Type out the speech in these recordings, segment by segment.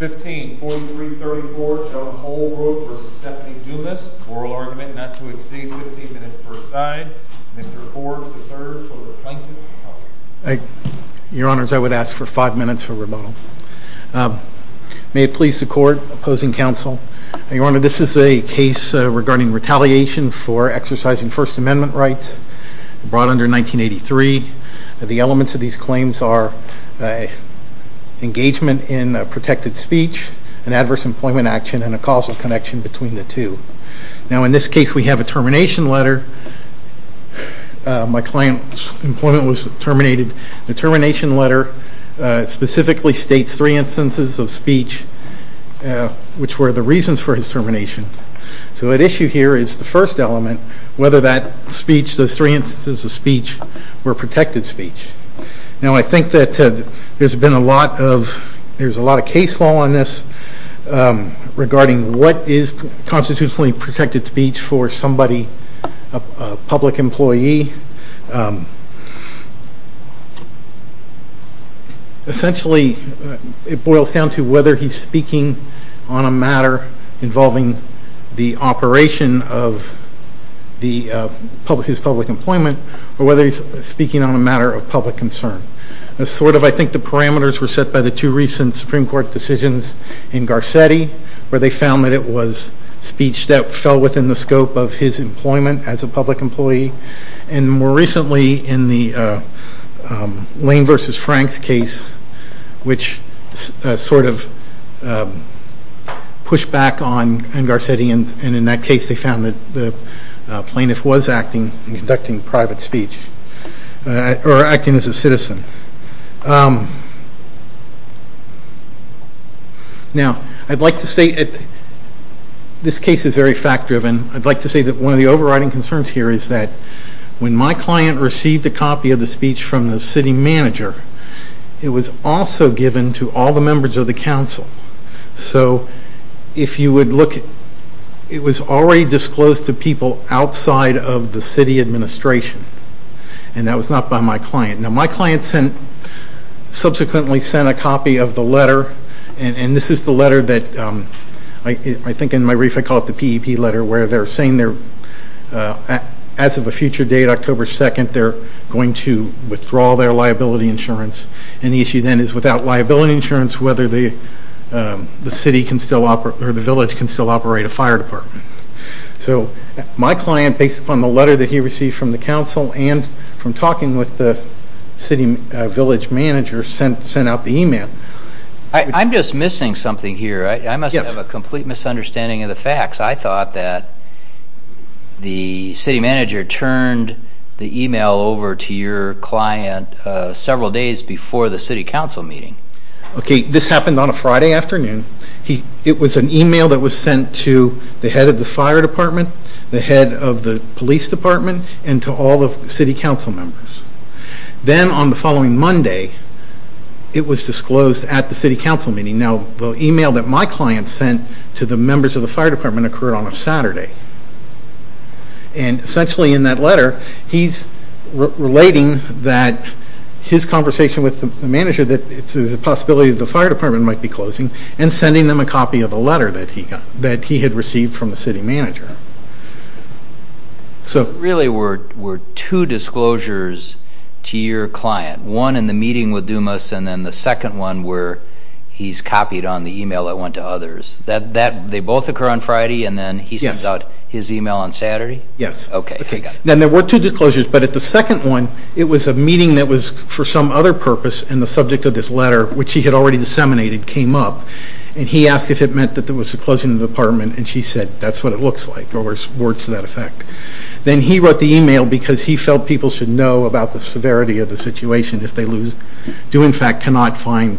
15-43-34 John Holbrook v. Stephanie Dumas. Oral argument not to exceed 15 minutes per side. Mr. Ford III for the Plaintiff. Your Honors, I would ask for five minutes for rebuttal. May it please the Court, opposing counsel. Your Honor, this is a case regarding retaliation for exercising First Amendment rights brought under 1983. The elements of these claims are engagement in protected speech, an adverse employment action, and a causal connection between the two. Now in this case we have a termination letter. My client's employment was terminated. The termination letter specifically states three instances of speech which were the reasons for his termination. So at issue here is the first element, whether that speech, those three instances of speech, were protected speech. Now I think that there's been a lot of case law on this regarding what is constitutionally protected speech for somebody, a public employee. Essentially it boils down to whether he's speaking on a matter involving the operation of his public employment or whether he's speaking on a matter of public concern. I think the parameters were set by the two recent Supreme Court decisions in Garcetti where they found that it was speech that fell within the scope of his employment as a public employee. And more recently in the Lane v. Franks case which sort of pushed back on Garcetti and in that case they found that the plaintiff was acting and conducting private speech or acting as a citizen. Now I'd like to say that this case is very fact driven. I'd like to say that one of the overriding concerns here is that when my client received a copy of the speech from the city manager, it was also given to all the members of the council. So if you would look, it was already disclosed to people outside of the city administration and that was not by my client. Now my client subsequently sent a copy of the letter and this is the letter that I think in my brief I call it the PEP letter where they're saying as of a future date, October 2nd, they're going to withdraw their liability insurance. And the issue then is without liability insurance whether the city can still operate or the village can still operate a fire department. So my client based upon the letter that he received from the council and from talking with the city village manager sent out the email. I'm just missing something here. I must have a complete misunderstanding of the facts. I thought that the city manager turned the email over to your client several days before the city council meeting. Okay, this happened on a Friday afternoon. It was an email that was sent to the head of the fire department, the head of the police department and to all the city council members. Then on the following Monday it was disclosed at the city council meeting. Now the email that my client sent to the members of the fire department occurred on a Saturday. And essentially in that letter he's relating that his conversation with the manager that there's a possibility the fire department might be closing and sending them a copy of the letter that he had received from the city manager. So really were two disclosures to your client. One in the meeting with Dumas and then the second one where he's copied on the email that went to others. They both occur on Friday and then he sends out his email on Saturday? Yes. Okay. Then there were two disclosures, but at the second one it was a meeting that was for some other purpose and the subject of this letter, which he had already disseminated, came up. And he asked if it meant that there was a closing of the department and she said that's what it looks like or words to that effect. Then he wrote the email because he felt people should know about the severity of the situation if they do in fact cannot find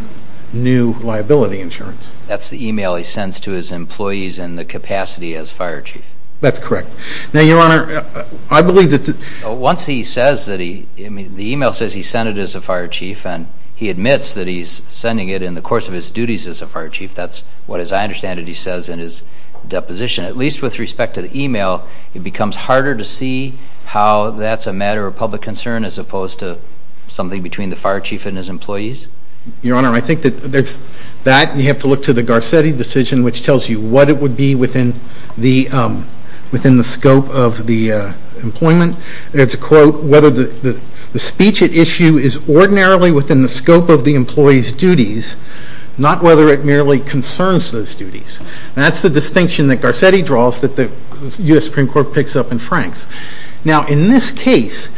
new liability insurance. That's the email he sends to his employees and the capacity as fire chief. That's correct. Now your honor, I believe that... Once he says that he, the email says he sent it as a fire chief and he admits that he's sending it in the course of his duties as a fire chief, that's what as I understand it he says in his deposition. At least with respect to the email, it becomes harder to see how that's a matter of public concern as opposed to something between the fire chief and his employees? Your honor, I think that you have to look to the Garcetti decision which tells you what it would be within the scope of the employment. It's a quote, whether the speech at issue is ordinarily within the scope of the employee's duties, not whether it merely concerns those duties. That's the distinction that Garcetti draws that the U.S. Supreme Court picks up in Franks. Now in this case,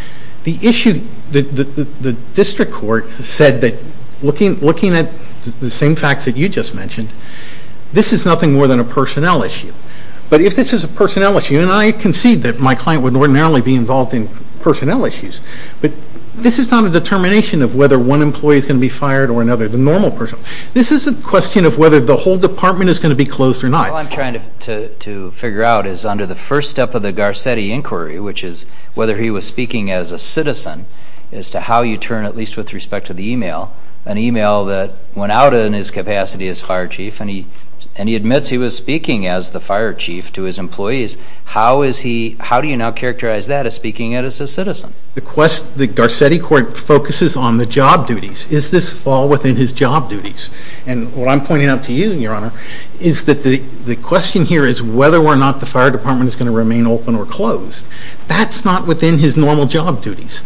the issue, the district court said that looking at the same facts that you just mentioned, this is nothing more than a personnel issue. But if this is a personnel issue, and I concede that my client would ordinarily be involved in personnel issues, but this is not a determination of whether one employee is going to be fired or another, the normal person. This is a question of whether the whole department is going to be closed or not. All I'm trying to figure out is under the first step of the Garcetti inquiry, which is whether he was speaking as a citizen, as to how you turn, at least with respect to the email, an email that went out in his capacity as fire chief, and he admits he was speaking as the fire chief to his employees, how do you now characterize that as speaking as a citizen? The Garcetti court focuses on the job duties. Is this fall within his job duties? And what I'm pointing out to you, Your Honor, is that the question here is whether or not the fire department is going to remain open or closed. That's not within his normal job duties.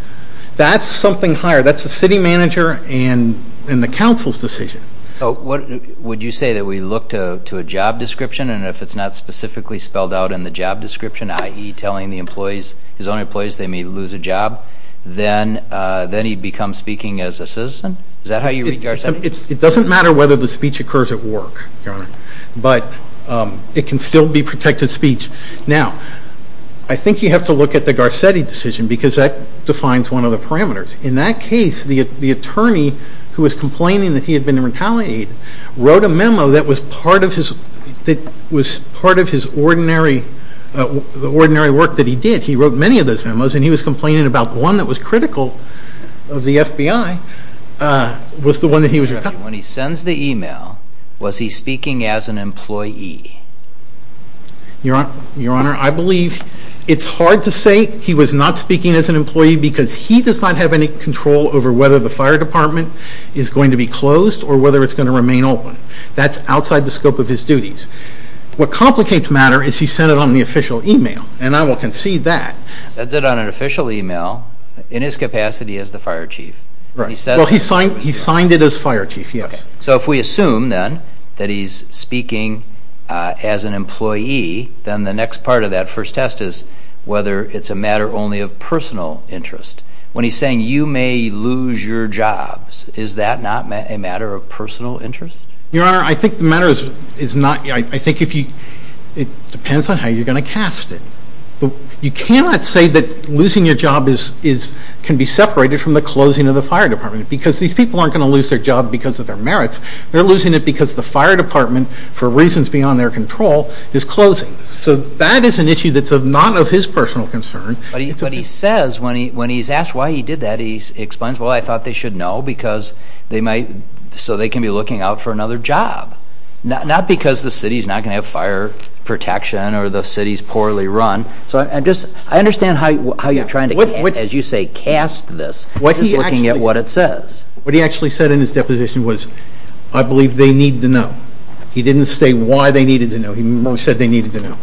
That's something higher. That's the city manager and the council's decision. Would you say that we look to a job description, and if it's not specifically spelled out in the job description, i.e. telling the employees, his own employees, they may lose a job, then he becomes speaking as a citizen? Is that how you read Garcetti? It doesn't matter whether the speech occurs at work, Your Honor, but it can still be protected speech. Now, I think you have to look at the Garcetti decision because that defines one of the parameters. In that case, the attorney who was complaining that he had been retaliated wrote a memo that was part of his ordinary work that he did. He wrote many of those memos, and he was complaining about one that was critical of the FBI. When he sends the email, was he speaking as an employee? Your Honor, I believe it's hard to say he was not speaking as an employee because he does not have any control over whether the fire department is going to be closed or whether it's going to remain open. That's outside the scope of his duties. What complicates matter is he sent it on the official email, and I will concede that. Sends it on an official email, in his capacity as the fire chief. He signed it as fire chief, yes. So if we assume, then, that he's speaking as an employee, then the next part of that first test is whether it's a matter only of personal interest. When he's saying, you may lose your jobs, is that not a matter of personal interest? Your Honor, I think the matter is not. I think it depends on how you're going to cast it. You cannot say that losing your job can be separated from the closing of the fire department because these people aren't going to lose their job because of their merits. They're losing it because the fire department, for reasons beyond their control, is closing. So that is an issue that's not of his personal concern. But he says, when he's asked why he did that, he explains, well, I thought they should know so they can be looking out for another job. Not because the city's not going to have fire protection or the city's poorly run. I understand how you're trying to, as you say, cast this. He's looking at what it says. What he actually said in his deposition was, I believe they need to know. He didn't say why they needed to know. He said they needed to know.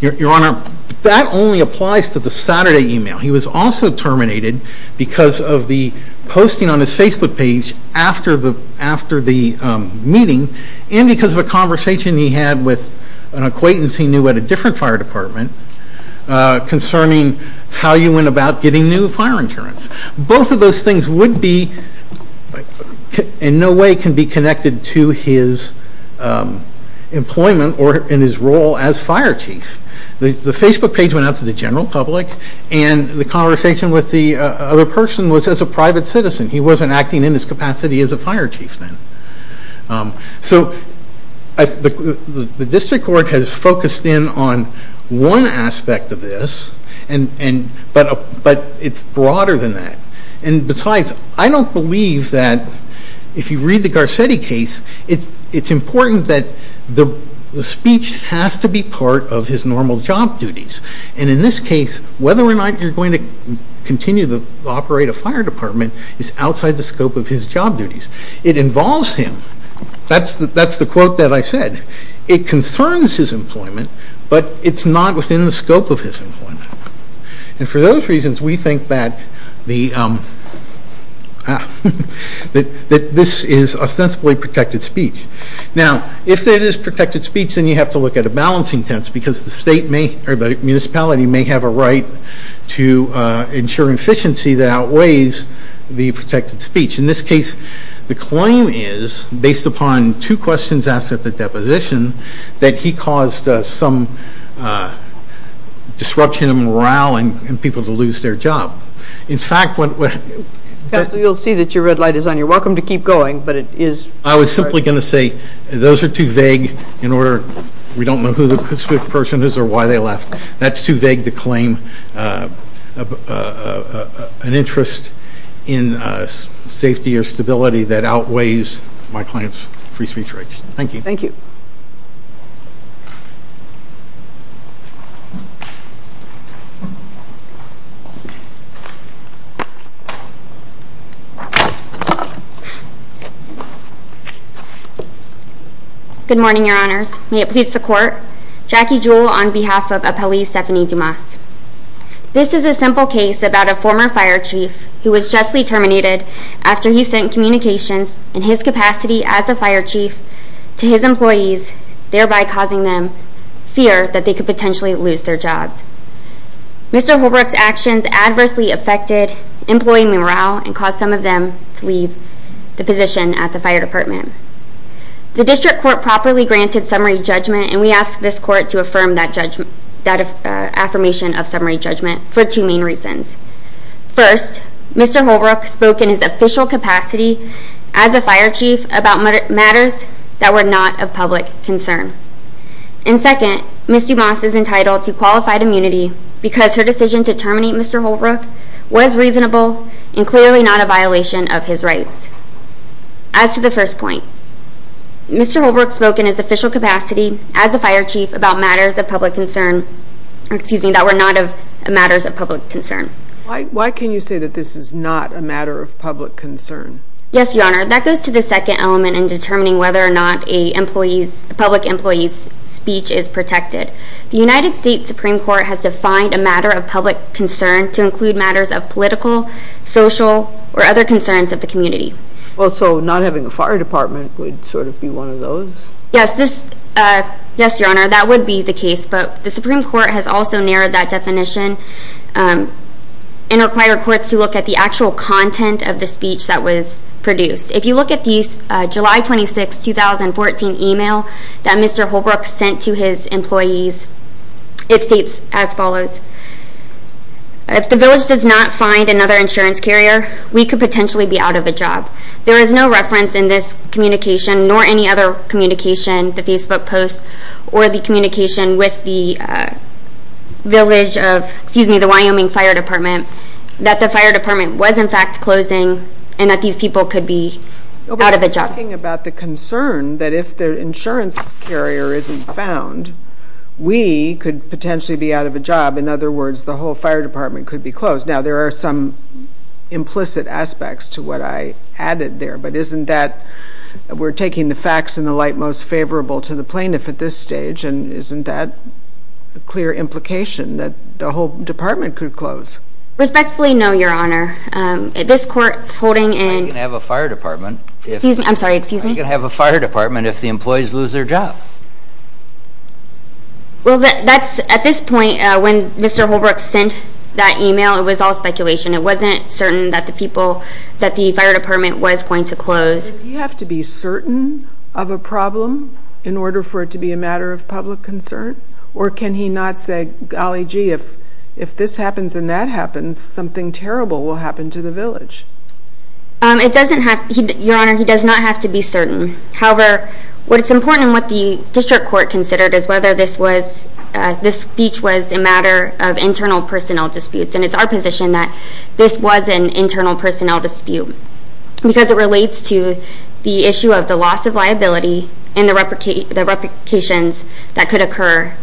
Your Honor, that only applies to the Saturday email. He was also terminated because of the posting on his Facebook page after the meeting and because of a conversation he had with an acquaintance he knew at a different fire department concerning how you went about getting new fire insurance. Both of those things would be, in no way, can be connected to his employment or in his role as fire chief. The Facebook page went out to the general public and the conversation with the other person was as a private citizen. He wasn't acting in his capacity as a fire chief then. So the district court has focused in on one aspect of this, but it's broader than that. And besides, I don't believe that if you read the Garcetti case, it's important that the speech has to be part of his normal job duties. And in this case, whether or not you're going to continue to operate a fire department is outside the scope of his job duties. It involves him. That's the quote that I said. It concerns his employment, but it's not within the scope of his employment. And for those reasons, we think that this is ostensibly protected speech. Now, if it is protected speech, then you have to look at a balancing test because the municipality may have a right to ensure efficiency that outweighs the protected speech. In this case, the claim is, based upon two questions asked at the deposition, that he caused some disruption in morale and people to lose their job. In fact, what – Counsel, you'll see that your red light is on. You're welcome to keep going, but it is – I was simply going to say those are too vague in order – we don't know who the person is or why they left. That's too vague to claim an interest in safety or stability that outweighs my client's free speech rights. Thank you. Thank you. Good morning, Your Honors. May it please the Court. Jackie Jewell on behalf of Appellee Stephanie Dumas. This is a simple case about a former fire chief who was justly terminated after he sent communications in his capacity as a fire chief to his employees, thereby causing them fear that they could potentially lose their jobs. Mr. Holbrook's actions adversely affected employee morale and caused some of them to leave the position at the fire department. The district court properly granted summary judgment, and we ask this court to affirm that affirmation of summary judgment for two main reasons. First, Mr. Holbrook spoke in his official capacity as a fire chief about matters that were not of public concern. And second, Ms. Dumas is entitled to qualified immunity because her decision to terminate Mr. Holbrook was reasonable and clearly not a violation of his rights. As to the first point, Mr. Holbrook spoke in his official capacity as a fire chief about matters of public concern, excuse me, that were not of matters of public concern. Why can you say that this is not a matter of public concern? Yes, Your Honor, that goes to the second element in determining whether or not a public employee's speech is protected. The United States Supreme Court has defined a matter of public concern to include matters of political, social, or other concerns of the community. Well, so not having a fire department would sort of be one of those? Yes, Your Honor, that would be the case, but the Supreme Court has also narrowed that definition and required courts to look at the actual content of the speech that was produced. If you look at the July 26, 2014 email that Mr. Holbrook sent to his employees, it states as follows, If the village does not find another insurance carrier, we could potentially be out of a job. There is no reference in this communication, nor any other communication, the Facebook post, or the communication with the village of, excuse me, the Wyoming Fire Department, that the fire department was, in fact, closing and that these people could be out of a job. But we're talking about the concern that if the insurance carrier isn't found, we could potentially be out of a job. In other words, the whole fire department could be closed. Now, there are some implicit aspects to what I added there, but isn't that we're taking the facts in the light most favorable to the plaintiff at this stage, and isn't that a clear implication that the whole department could close? Respectfully, no, Your Honor. This court's holding in I can have a fire department Excuse me, I'm sorry, excuse me. I can have a fire department if the employees lose their job. Well, at this point, when Mr. Holbrook sent that email, it was all speculation. It wasn't certain that the people, that the fire department was going to close. Does he have to be certain of a problem in order for it to be a matter of public concern? Or can he not say, golly gee, if this happens and that happens, something terrible will happen to the village? It doesn't have, Your Honor, he does not have to be certain. However, what's important and what the district court considered is whether this was, this speech was a matter of internal personnel disputes. And it's our position that this was an internal personnel dispute because it relates to the issue of the loss of liability and the replications that could occur,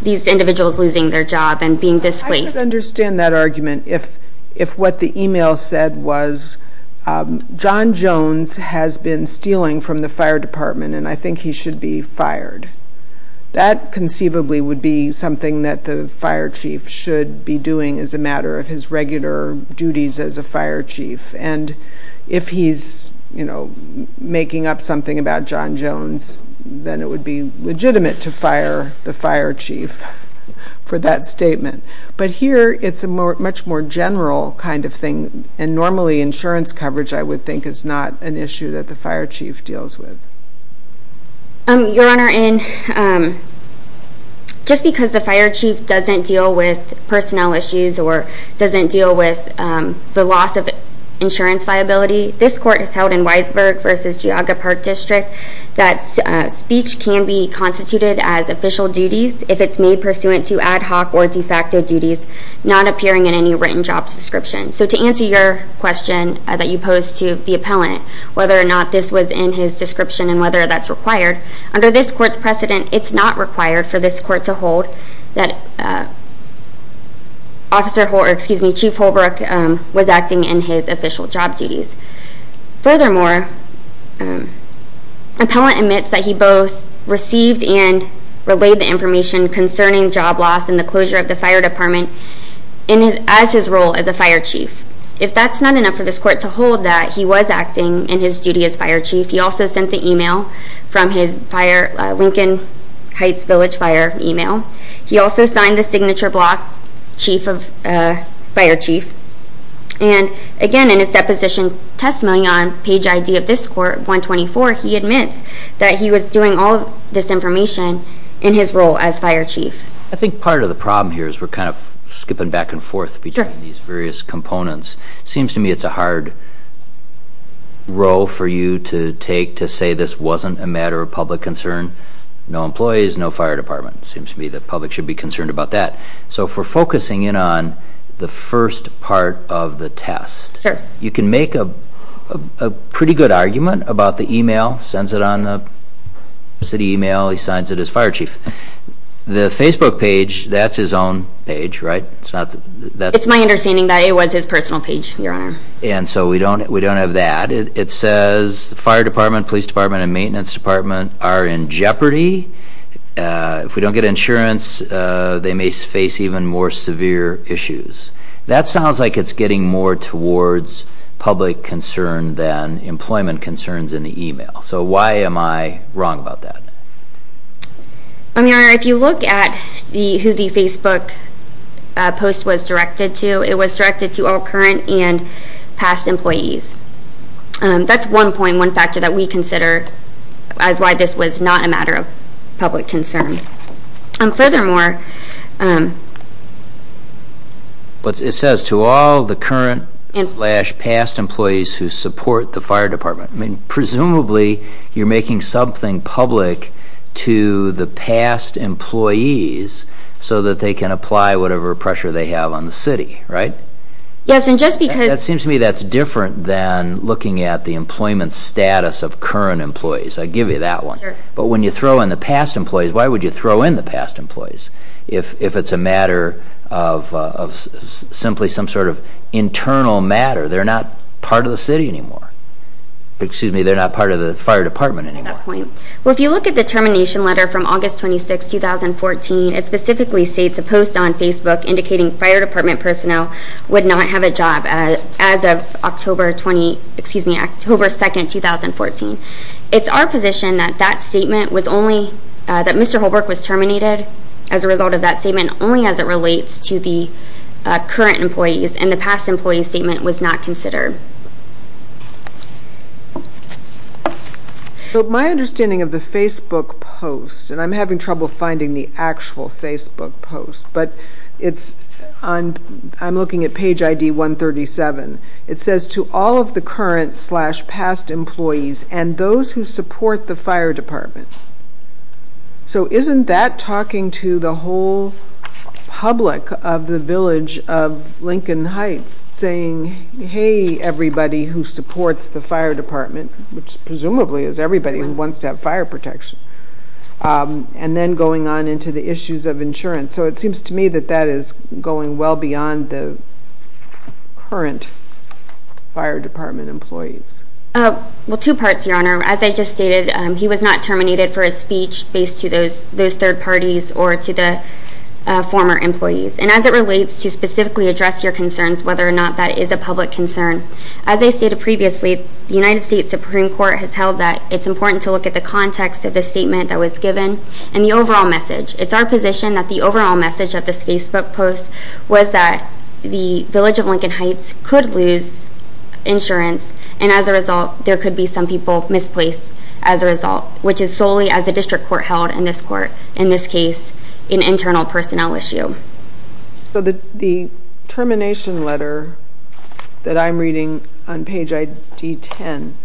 these individuals losing their job and being displaced. I could understand that argument if what the email said was, John Jones has been stealing from the fire department, and I think he should be fired. That conceivably would be something that the fire chief should be doing as a matter of his regular duties as a fire chief. And if he's, you know, making up something about John Jones, then it would be legitimate to fire the fire chief for that statement. But here it's a much more general kind of thing. And normally insurance coverage, I would think, is not an issue that the fire chief deals with. Your Honor, just because the fire chief doesn't deal with personnel issues or doesn't deal with the loss of insurance liability, this court has held in Weisberg v. Geauga Park District that speech can be constituted as official duties if it's made pursuant to ad hoc or de facto duties, not appearing in any written job description. So to answer your question that you posed to the appellant, whether or not this was in his description and whether that's required, under this court's precedent, it's not required for this court to hold that Chief Holbrook was acting in his official job duties. Furthermore, appellant admits that he both received and relayed the information concerning job loss and the closure of the fire department as his role as a fire chief. If that's not enough for this court to hold that he was acting in his duty as fire chief, he also sent the email from his Lincoln Heights Village Fire email. He also signed the signature block, Chief of Fire Chief. And again, in his deposition testimony on page ID of this court, 124, he admits that he was doing all of this information in his role as fire chief. I think part of the problem here is we're kind of skipping back and forth between these various components. It seems to me it's a hard role for you to take to say this wasn't a matter of public concern, no employees, no fire department. It seems to me the public should be concerned about that. So if we're focusing in on the first part of the test, you can make a pretty good argument about the email, sends it on the city email, he signs it as fire chief. The Facebook page, that's his own page, right? It's my understanding that it was his personal page, Your Honor. And so we don't have that. It says fire department, police department, and maintenance department are in jeopardy. If we don't get insurance, they may face even more severe issues. That sounds like it's getting more towards public concern than employment concerns in the email. So why am I wrong about that? I mean, Your Honor, if you look at who the Facebook post was directed to, it was directed to all current and past employees. That's one point, one factor that we consider as why this was not a matter of public concern. Furthermore, It says to all the current and past employees who support the fire department. I mean, presumably, you're making something public to the past employees so that they can apply whatever pressure they have on the city, right? Yes, and just because That seems to me that's different than looking at the employment status of current employees. I give you that one. But when you throw in the past employees, why would you throw in the past employees? If it's a matter of simply some sort of internal matter, they're not part of the city anymore. Excuse me, they're not part of the fire department anymore. Well, if you look at the termination letter from August 26, 2014, it specifically states a post on Facebook indicating fire department personnel would not have a job as of October 2, 2014. It's our position that that statement was only, that Mr. Holbrook was terminated as a result of that statement only as it relates to the current employees, and the past employee statement was not considered. So my understanding of the Facebook post, and I'm having trouble finding the actual Facebook post, but it's on, I'm looking at page ID 137. It says to all of the current slash past employees and those who support the fire department. So isn't that talking to the whole public of the village of Lincoln Heights saying, hey, everybody who supports the fire department, which presumably is everybody who wants to have fire protection, and then going on into the issues of insurance. So it seems to me that that is going well beyond the current fire department employees. Well, two parts, Your Honor. As I just stated, he was not terminated for his speech based to those third parties or to the former employees. And as it relates to specifically address your concerns, whether or not that is a public concern, as I stated previously, the United States Supreme Court has held that it's important to look at the context of the statement that was given and the overall message. It's our position that the overall message of this Facebook post was that the village of Lincoln Heights could lose insurance, and as a result, there could be some people misplaced as a result, which is solely as the district court held in this court, in this case, an internal personnel issue. So the termination letter that I'm reading on page ID 10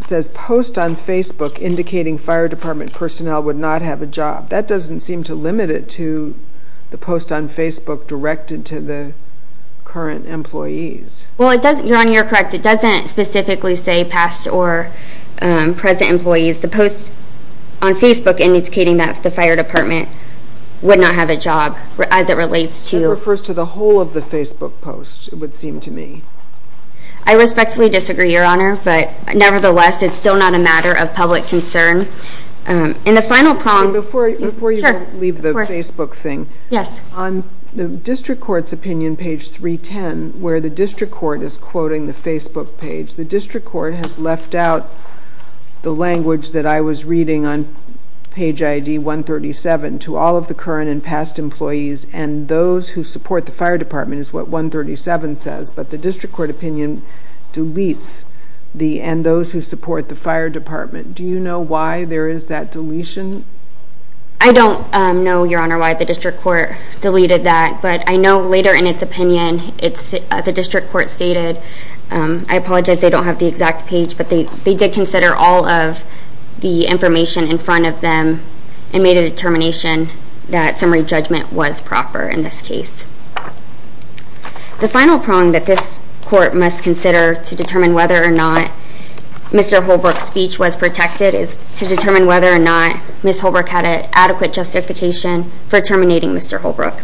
says, post on Facebook indicating fire department personnel would not have a job. That doesn't seem to limit it to the post on Facebook directed to the current employees. Well, Your Honor, you're correct. It doesn't specifically say past or present employees. The post on Facebook indicating that the fire department would not have a job as it relates to the whole of the Facebook post, it would seem to me. I respectfully disagree, Your Honor, but nevertheless, it's still not a matter of public concern. And the final prong. Before you leave the Facebook thing, on the district court's opinion, page 310, where the district court is quoting the Facebook page, the district court has left out the language that I was reading on page ID 137 to all of the current and past employees and those who support the fire department is what 137 says, but the district court opinion deletes the and those who support the fire department. Do you know why there is that deletion? I don't know, Your Honor, why the district court deleted that, but I know later in its opinion the district court stated, I apologize they don't have the exact page, but they did consider all of the information in front of them and made a determination that summary judgment was proper in this case. The final prong that this court must consider to determine whether or not Mr. Holbrook's speech was protected is to determine whether or not Ms. Holbrook had an adequate justification for terminating Mr. Holbrook.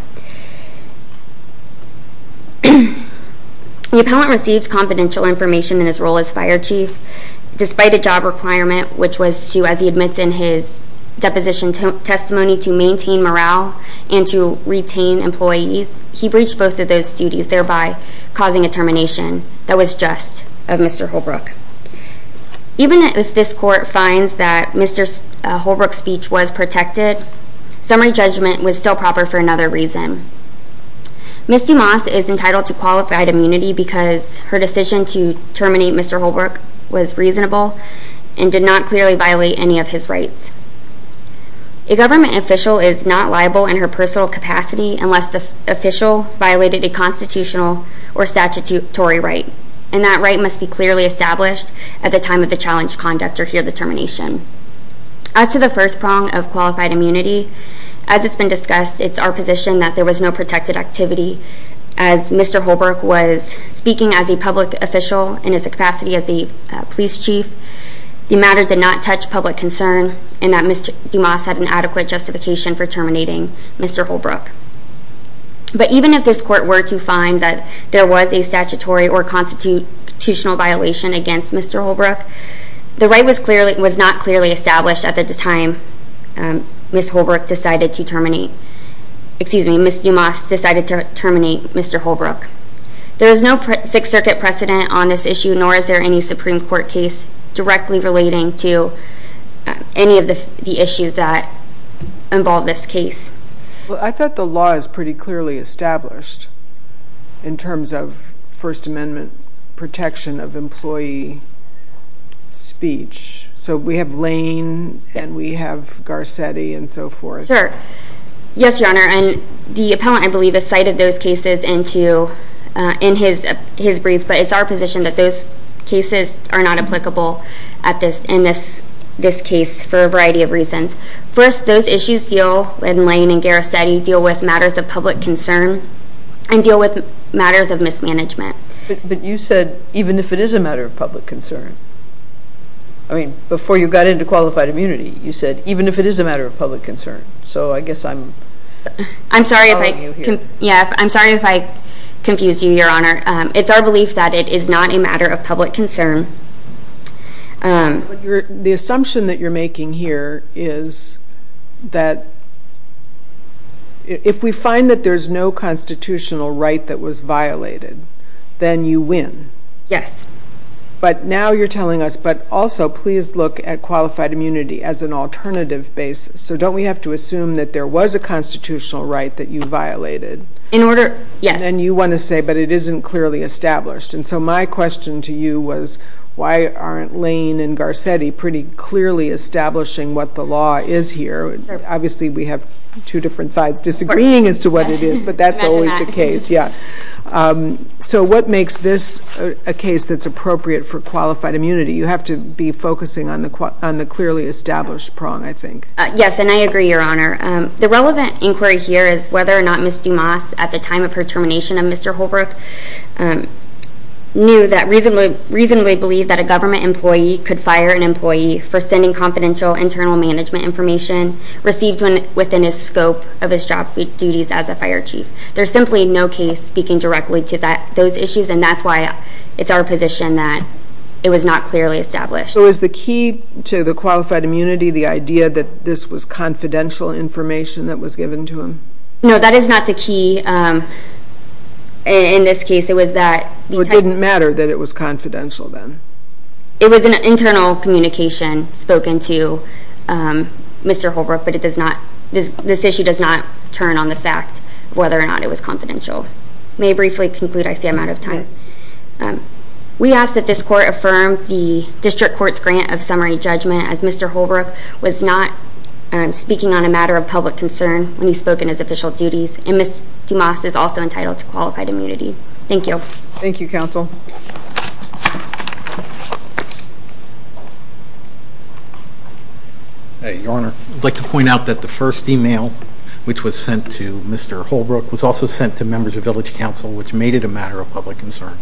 The appellant received confidential information in his role as fire chief, despite a job requirement, which was to, as he admits in his deposition testimony, to maintain morale and to retain employees. He breached both of those duties, thereby causing a termination that was just of Mr. Holbrook. Even if this court finds that Mr. Holbrook's speech was protected, summary judgment was still proper for another reason. Ms. Dumas is entitled to qualified immunity because her decision to terminate Mr. Holbrook was reasonable and did not clearly violate any of his rights. A government official is not liable in her personal capacity unless the official violated a constitutional or statutory right, and that right must be clearly established at the time of the challenged conduct or here determination. As to the first prong of qualified immunity, as it's been discussed, it's our position that there was no protected activity. As Mr. Holbrook was speaking as a public official in his capacity as a police chief, the matter did not touch public concern and that Ms. Dumas had an adequate justification for terminating Mr. Holbrook. But even if this court were to find that there was a statutory or constitutional violation against Mr. Holbrook, the right was not clearly established at the time Ms. Dumas decided to terminate Mr. Holbrook. There is no Sixth Circuit precedent on this issue, nor is there any Supreme Court case directly relating to any of the issues that involve this case. Well, I thought the law is pretty clearly established in terms of First Amendment protection of employee speech. So we have Lane and we have Garcetti and so forth. Sure. Yes, Your Honor, and the appellant, I believe, has cited those cases in his brief, but it's our position that those cases are not applicable in this case for a variety of reasons. First, those issues in Lane and Garcetti deal with matters of public concern and deal with matters of mismanagement. But you said even if it is a matter of public concern. I mean, before you got into qualified immunity, you said even if it is a matter of public concern. So I guess I'm following you here. I'm sorry if I confused you, Your Honor. It's our belief that it is not a matter of public concern. The assumption that you're making here is that if we find that there's no constitutional right that was violated, then you win. Yes. But now you're telling us, but also please look at qualified immunity as an alternative basis. So don't we have to assume that there was a constitutional right that you violated? In order, yes. And you want to say, but it isn't clearly established. And so my question to you was, why aren't Lane and Garcetti pretty clearly establishing what the law is here? Obviously, we have two different sides disagreeing as to what it is, but that's always the case. Yeah. So what makes this a case that's appropriate for qualified immunity? You have to be focusing on the clearly established prong, I think. Yes, and I agree, Your Honor. The relevant inquiry here is whether or not Ms. Dumas, at the time of her termination of Mr. Holbrook, knew that reasonably, reasonably believed that a government employee could fire an employee for sending confidential internal management information received within his scope of his job duties as a fire chief. There's simply no case speaking directly to those issues, and that's why it's our position that it was not clearly established. So is the key to the qualified immunity the idea that this was confidential information that was given to him? No, that is not the key. In this case, it was that the type of information. It didn't matter that it was confidential then? It was an internal communication spoken to Mr. Holbrook, but this issue does not turn on the fact of whether or not it was confidential. May I briefly conclude? I see I'm out of time. We ask that this court affirm the district court's grant of summary judgment, as Mr. Holbrook was not speaking on a matter of public concern when he spoke in his official duties, and Ms. Dumas is also entitled to qualified immunity. Thank you. Thank you, Counsel. Your Honor, I'd like to point out that the first email which was sent to Mr. Holbrook was also sent to members of Village Council, which made it a matter of public concern.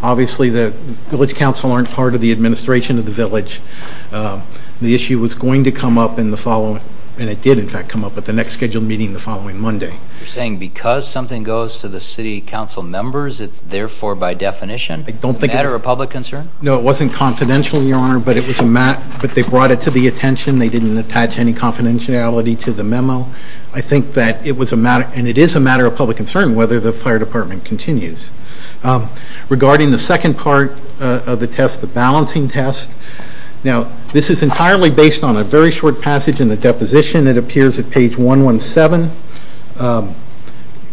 Obviously, the Village Council aren't part of the administration of the Village. The issue was going to come up in the following, and it did in fact come up at the next scheduled meeting the following Monday. You're saying because something goes to the City Council members, it's therefore by definition a matter of public concern? No, it wasn't confidential, Your Honor, but they brought it to the attention. They didn't attach any confidentiality to the memo. I think that it was a matter, and it is a matter of public concern, whether the Fire Department continues. Regarding the second part of the test, the balancing test, now this is entirely based on a very short passage in the deposition that appears at page 117.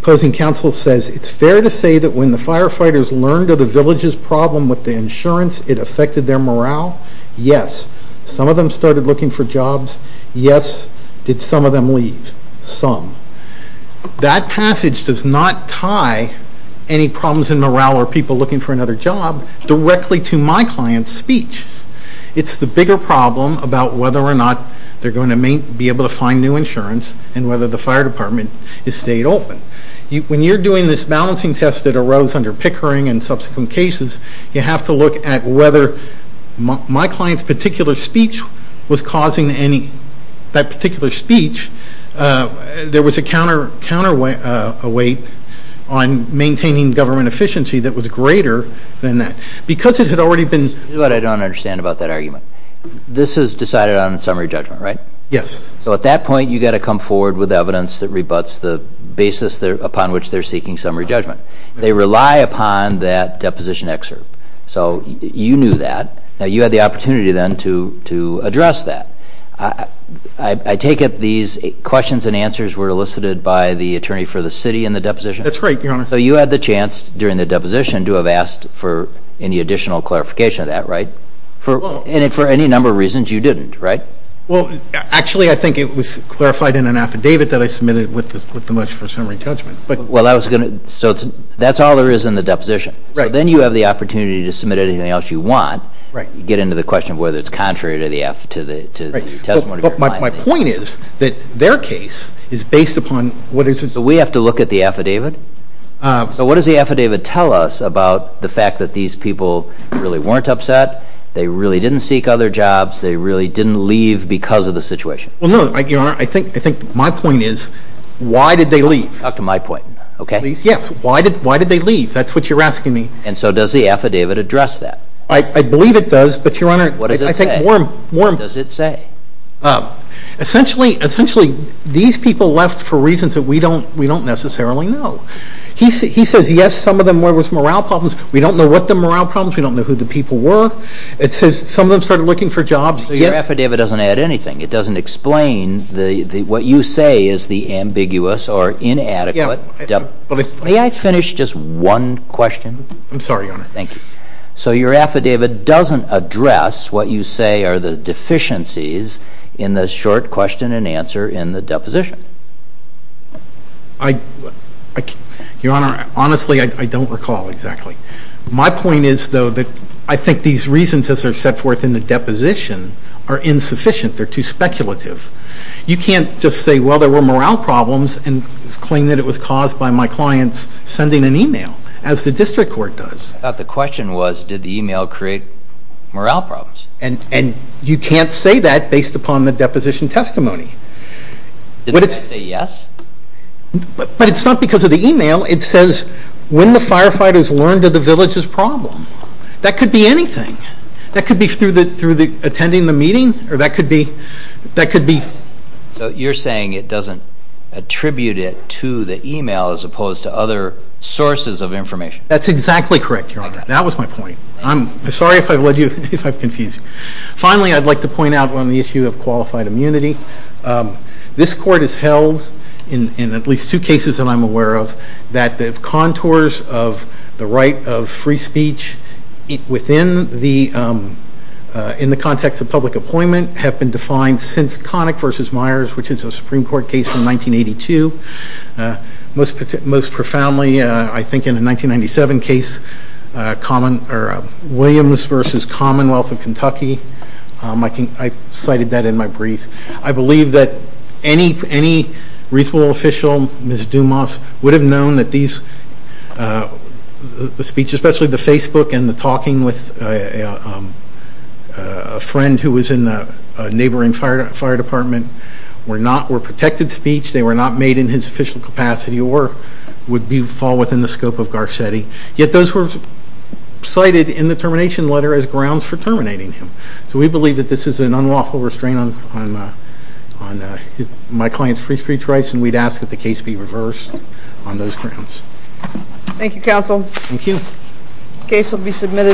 Closing counsel says, It's fair to say that when the firefighters learned of the Village's problem with the insurance, it affected their morale? Yes. Some of them started looking for jobs. Yes. Did some of them leave? Some. That passage does not tie any problems in morale or people looking for another job directly to my client's speech. It's the bigger problem about whether or not they're going to be able to find new insurance and whether the Fire Department has stayed open. When you're doing this balancing test that arose under Pickering and subsequent cases, you have to look at whether my client's particular speech was causing any, that particular speech, there was a counterweight on maintaining government efficiency that was greater than that. Because it had already been... Here's what I don't understand about that argument. This is decided on summary judgment, right? Yes. So at that point, you've got to come forward with evidence that rebuts the basis upon which they're seeking summary judgment. They rely upon that deposition excerpt. So you knew that. Now, you had the opportunity then to address that. I take it these questions and answers were elicited by the attorney for the city in the deposition? That's right, Your Honor. So you had the chance during the deposition to have asked for any additional clarification of that, right? And for any number of reasons, you didn't, right? Well, actually, I think it was clarified in an affidavit that I submitted with the much for summary judgment. Well, I was going to... So that's all there is in the deposition. Right. So then you have the opportunity to submit anything else you want. Right. You get into the question of whether it's contrary to the testimony of your client. But my point is that their case is based upon what is... So we have to look at the affidavit? So what does the affidavit tell us about the fact that these people really weren't upset, they really didn't seek other jobs, they really didn't leave because of the situation? Well, no, Your Honor, I think my point is why did they leave? Talk to my point, okay? Yes. Why did they leave? That's what you're asking me. And so does the affidavit address that? I believe it does, but, Your Honor, I think more... What does it say? More... What does it say? Essentially, these people left for reasons that we don't necessarily know. He says, yes, some of them there was morale problems. We don't know what the morale problems, we don't know who the people were. It says some of them started looking for jobs. Your affidavit doesn't add anything. It doesn't explain what you say is the ambiguous or inadequate... May I finish just one question? I'm sorry, Your Honor. Thank you. So your affidavit doesn't address what you say are the deficiencies in the short question and answer in the deposition. Your Honor, honestly, I don't recall exactly. My point is, though, that I think these reasons, as they're set forth in the deposition, are insufficient. They're too speculative. You can't just say, well, there were morale problems and claim that it was caused by my clients sending an e-mail, as the district court does. I thought the question was, did the e-mail create morale problems? And you can't say that based upon the deposition testimony. Didn't it say yes? But it's not because of the e-mail. It says, when the firefighters learned of the village's problem. That could be anything. That could be through attending the meeting, or that could be... So you're saying it doesn't attribute it to the e-mail as opposed to other sources of information. That's exactly correct, Your Honor. That was my point. I'm sorry if I've confused you. Finally, I'd like to point out on the issue of qualified immunity. This court has held, in at least two cases that I'm aware of, that the contours of the right of free speech within the... in the context of public appointment, have been defined since Connick v. Myers, which is a Supreme Court case from 1982. Most profoundly, I think in the 1997 case, Williams v. Commonwealth of Kentucky. I cited that in my brief. I believe that any reasonable official, Ms. Dumas, would have known that these... the speech, especially the Facebook and the talking with a friend who was in a neighboring fire department, were not... were protected speech. They were not made in his official capacity or would fall within the scope of Garcetti. Yet, those were cited in the termination letter as grounds for terminating him. So, we believe that this is an unlawful restraint on my client's free speech rights. And, we'd ask that the case be reversed on those grounds. Thank you, Counsel. Thank you. The case will be submitted.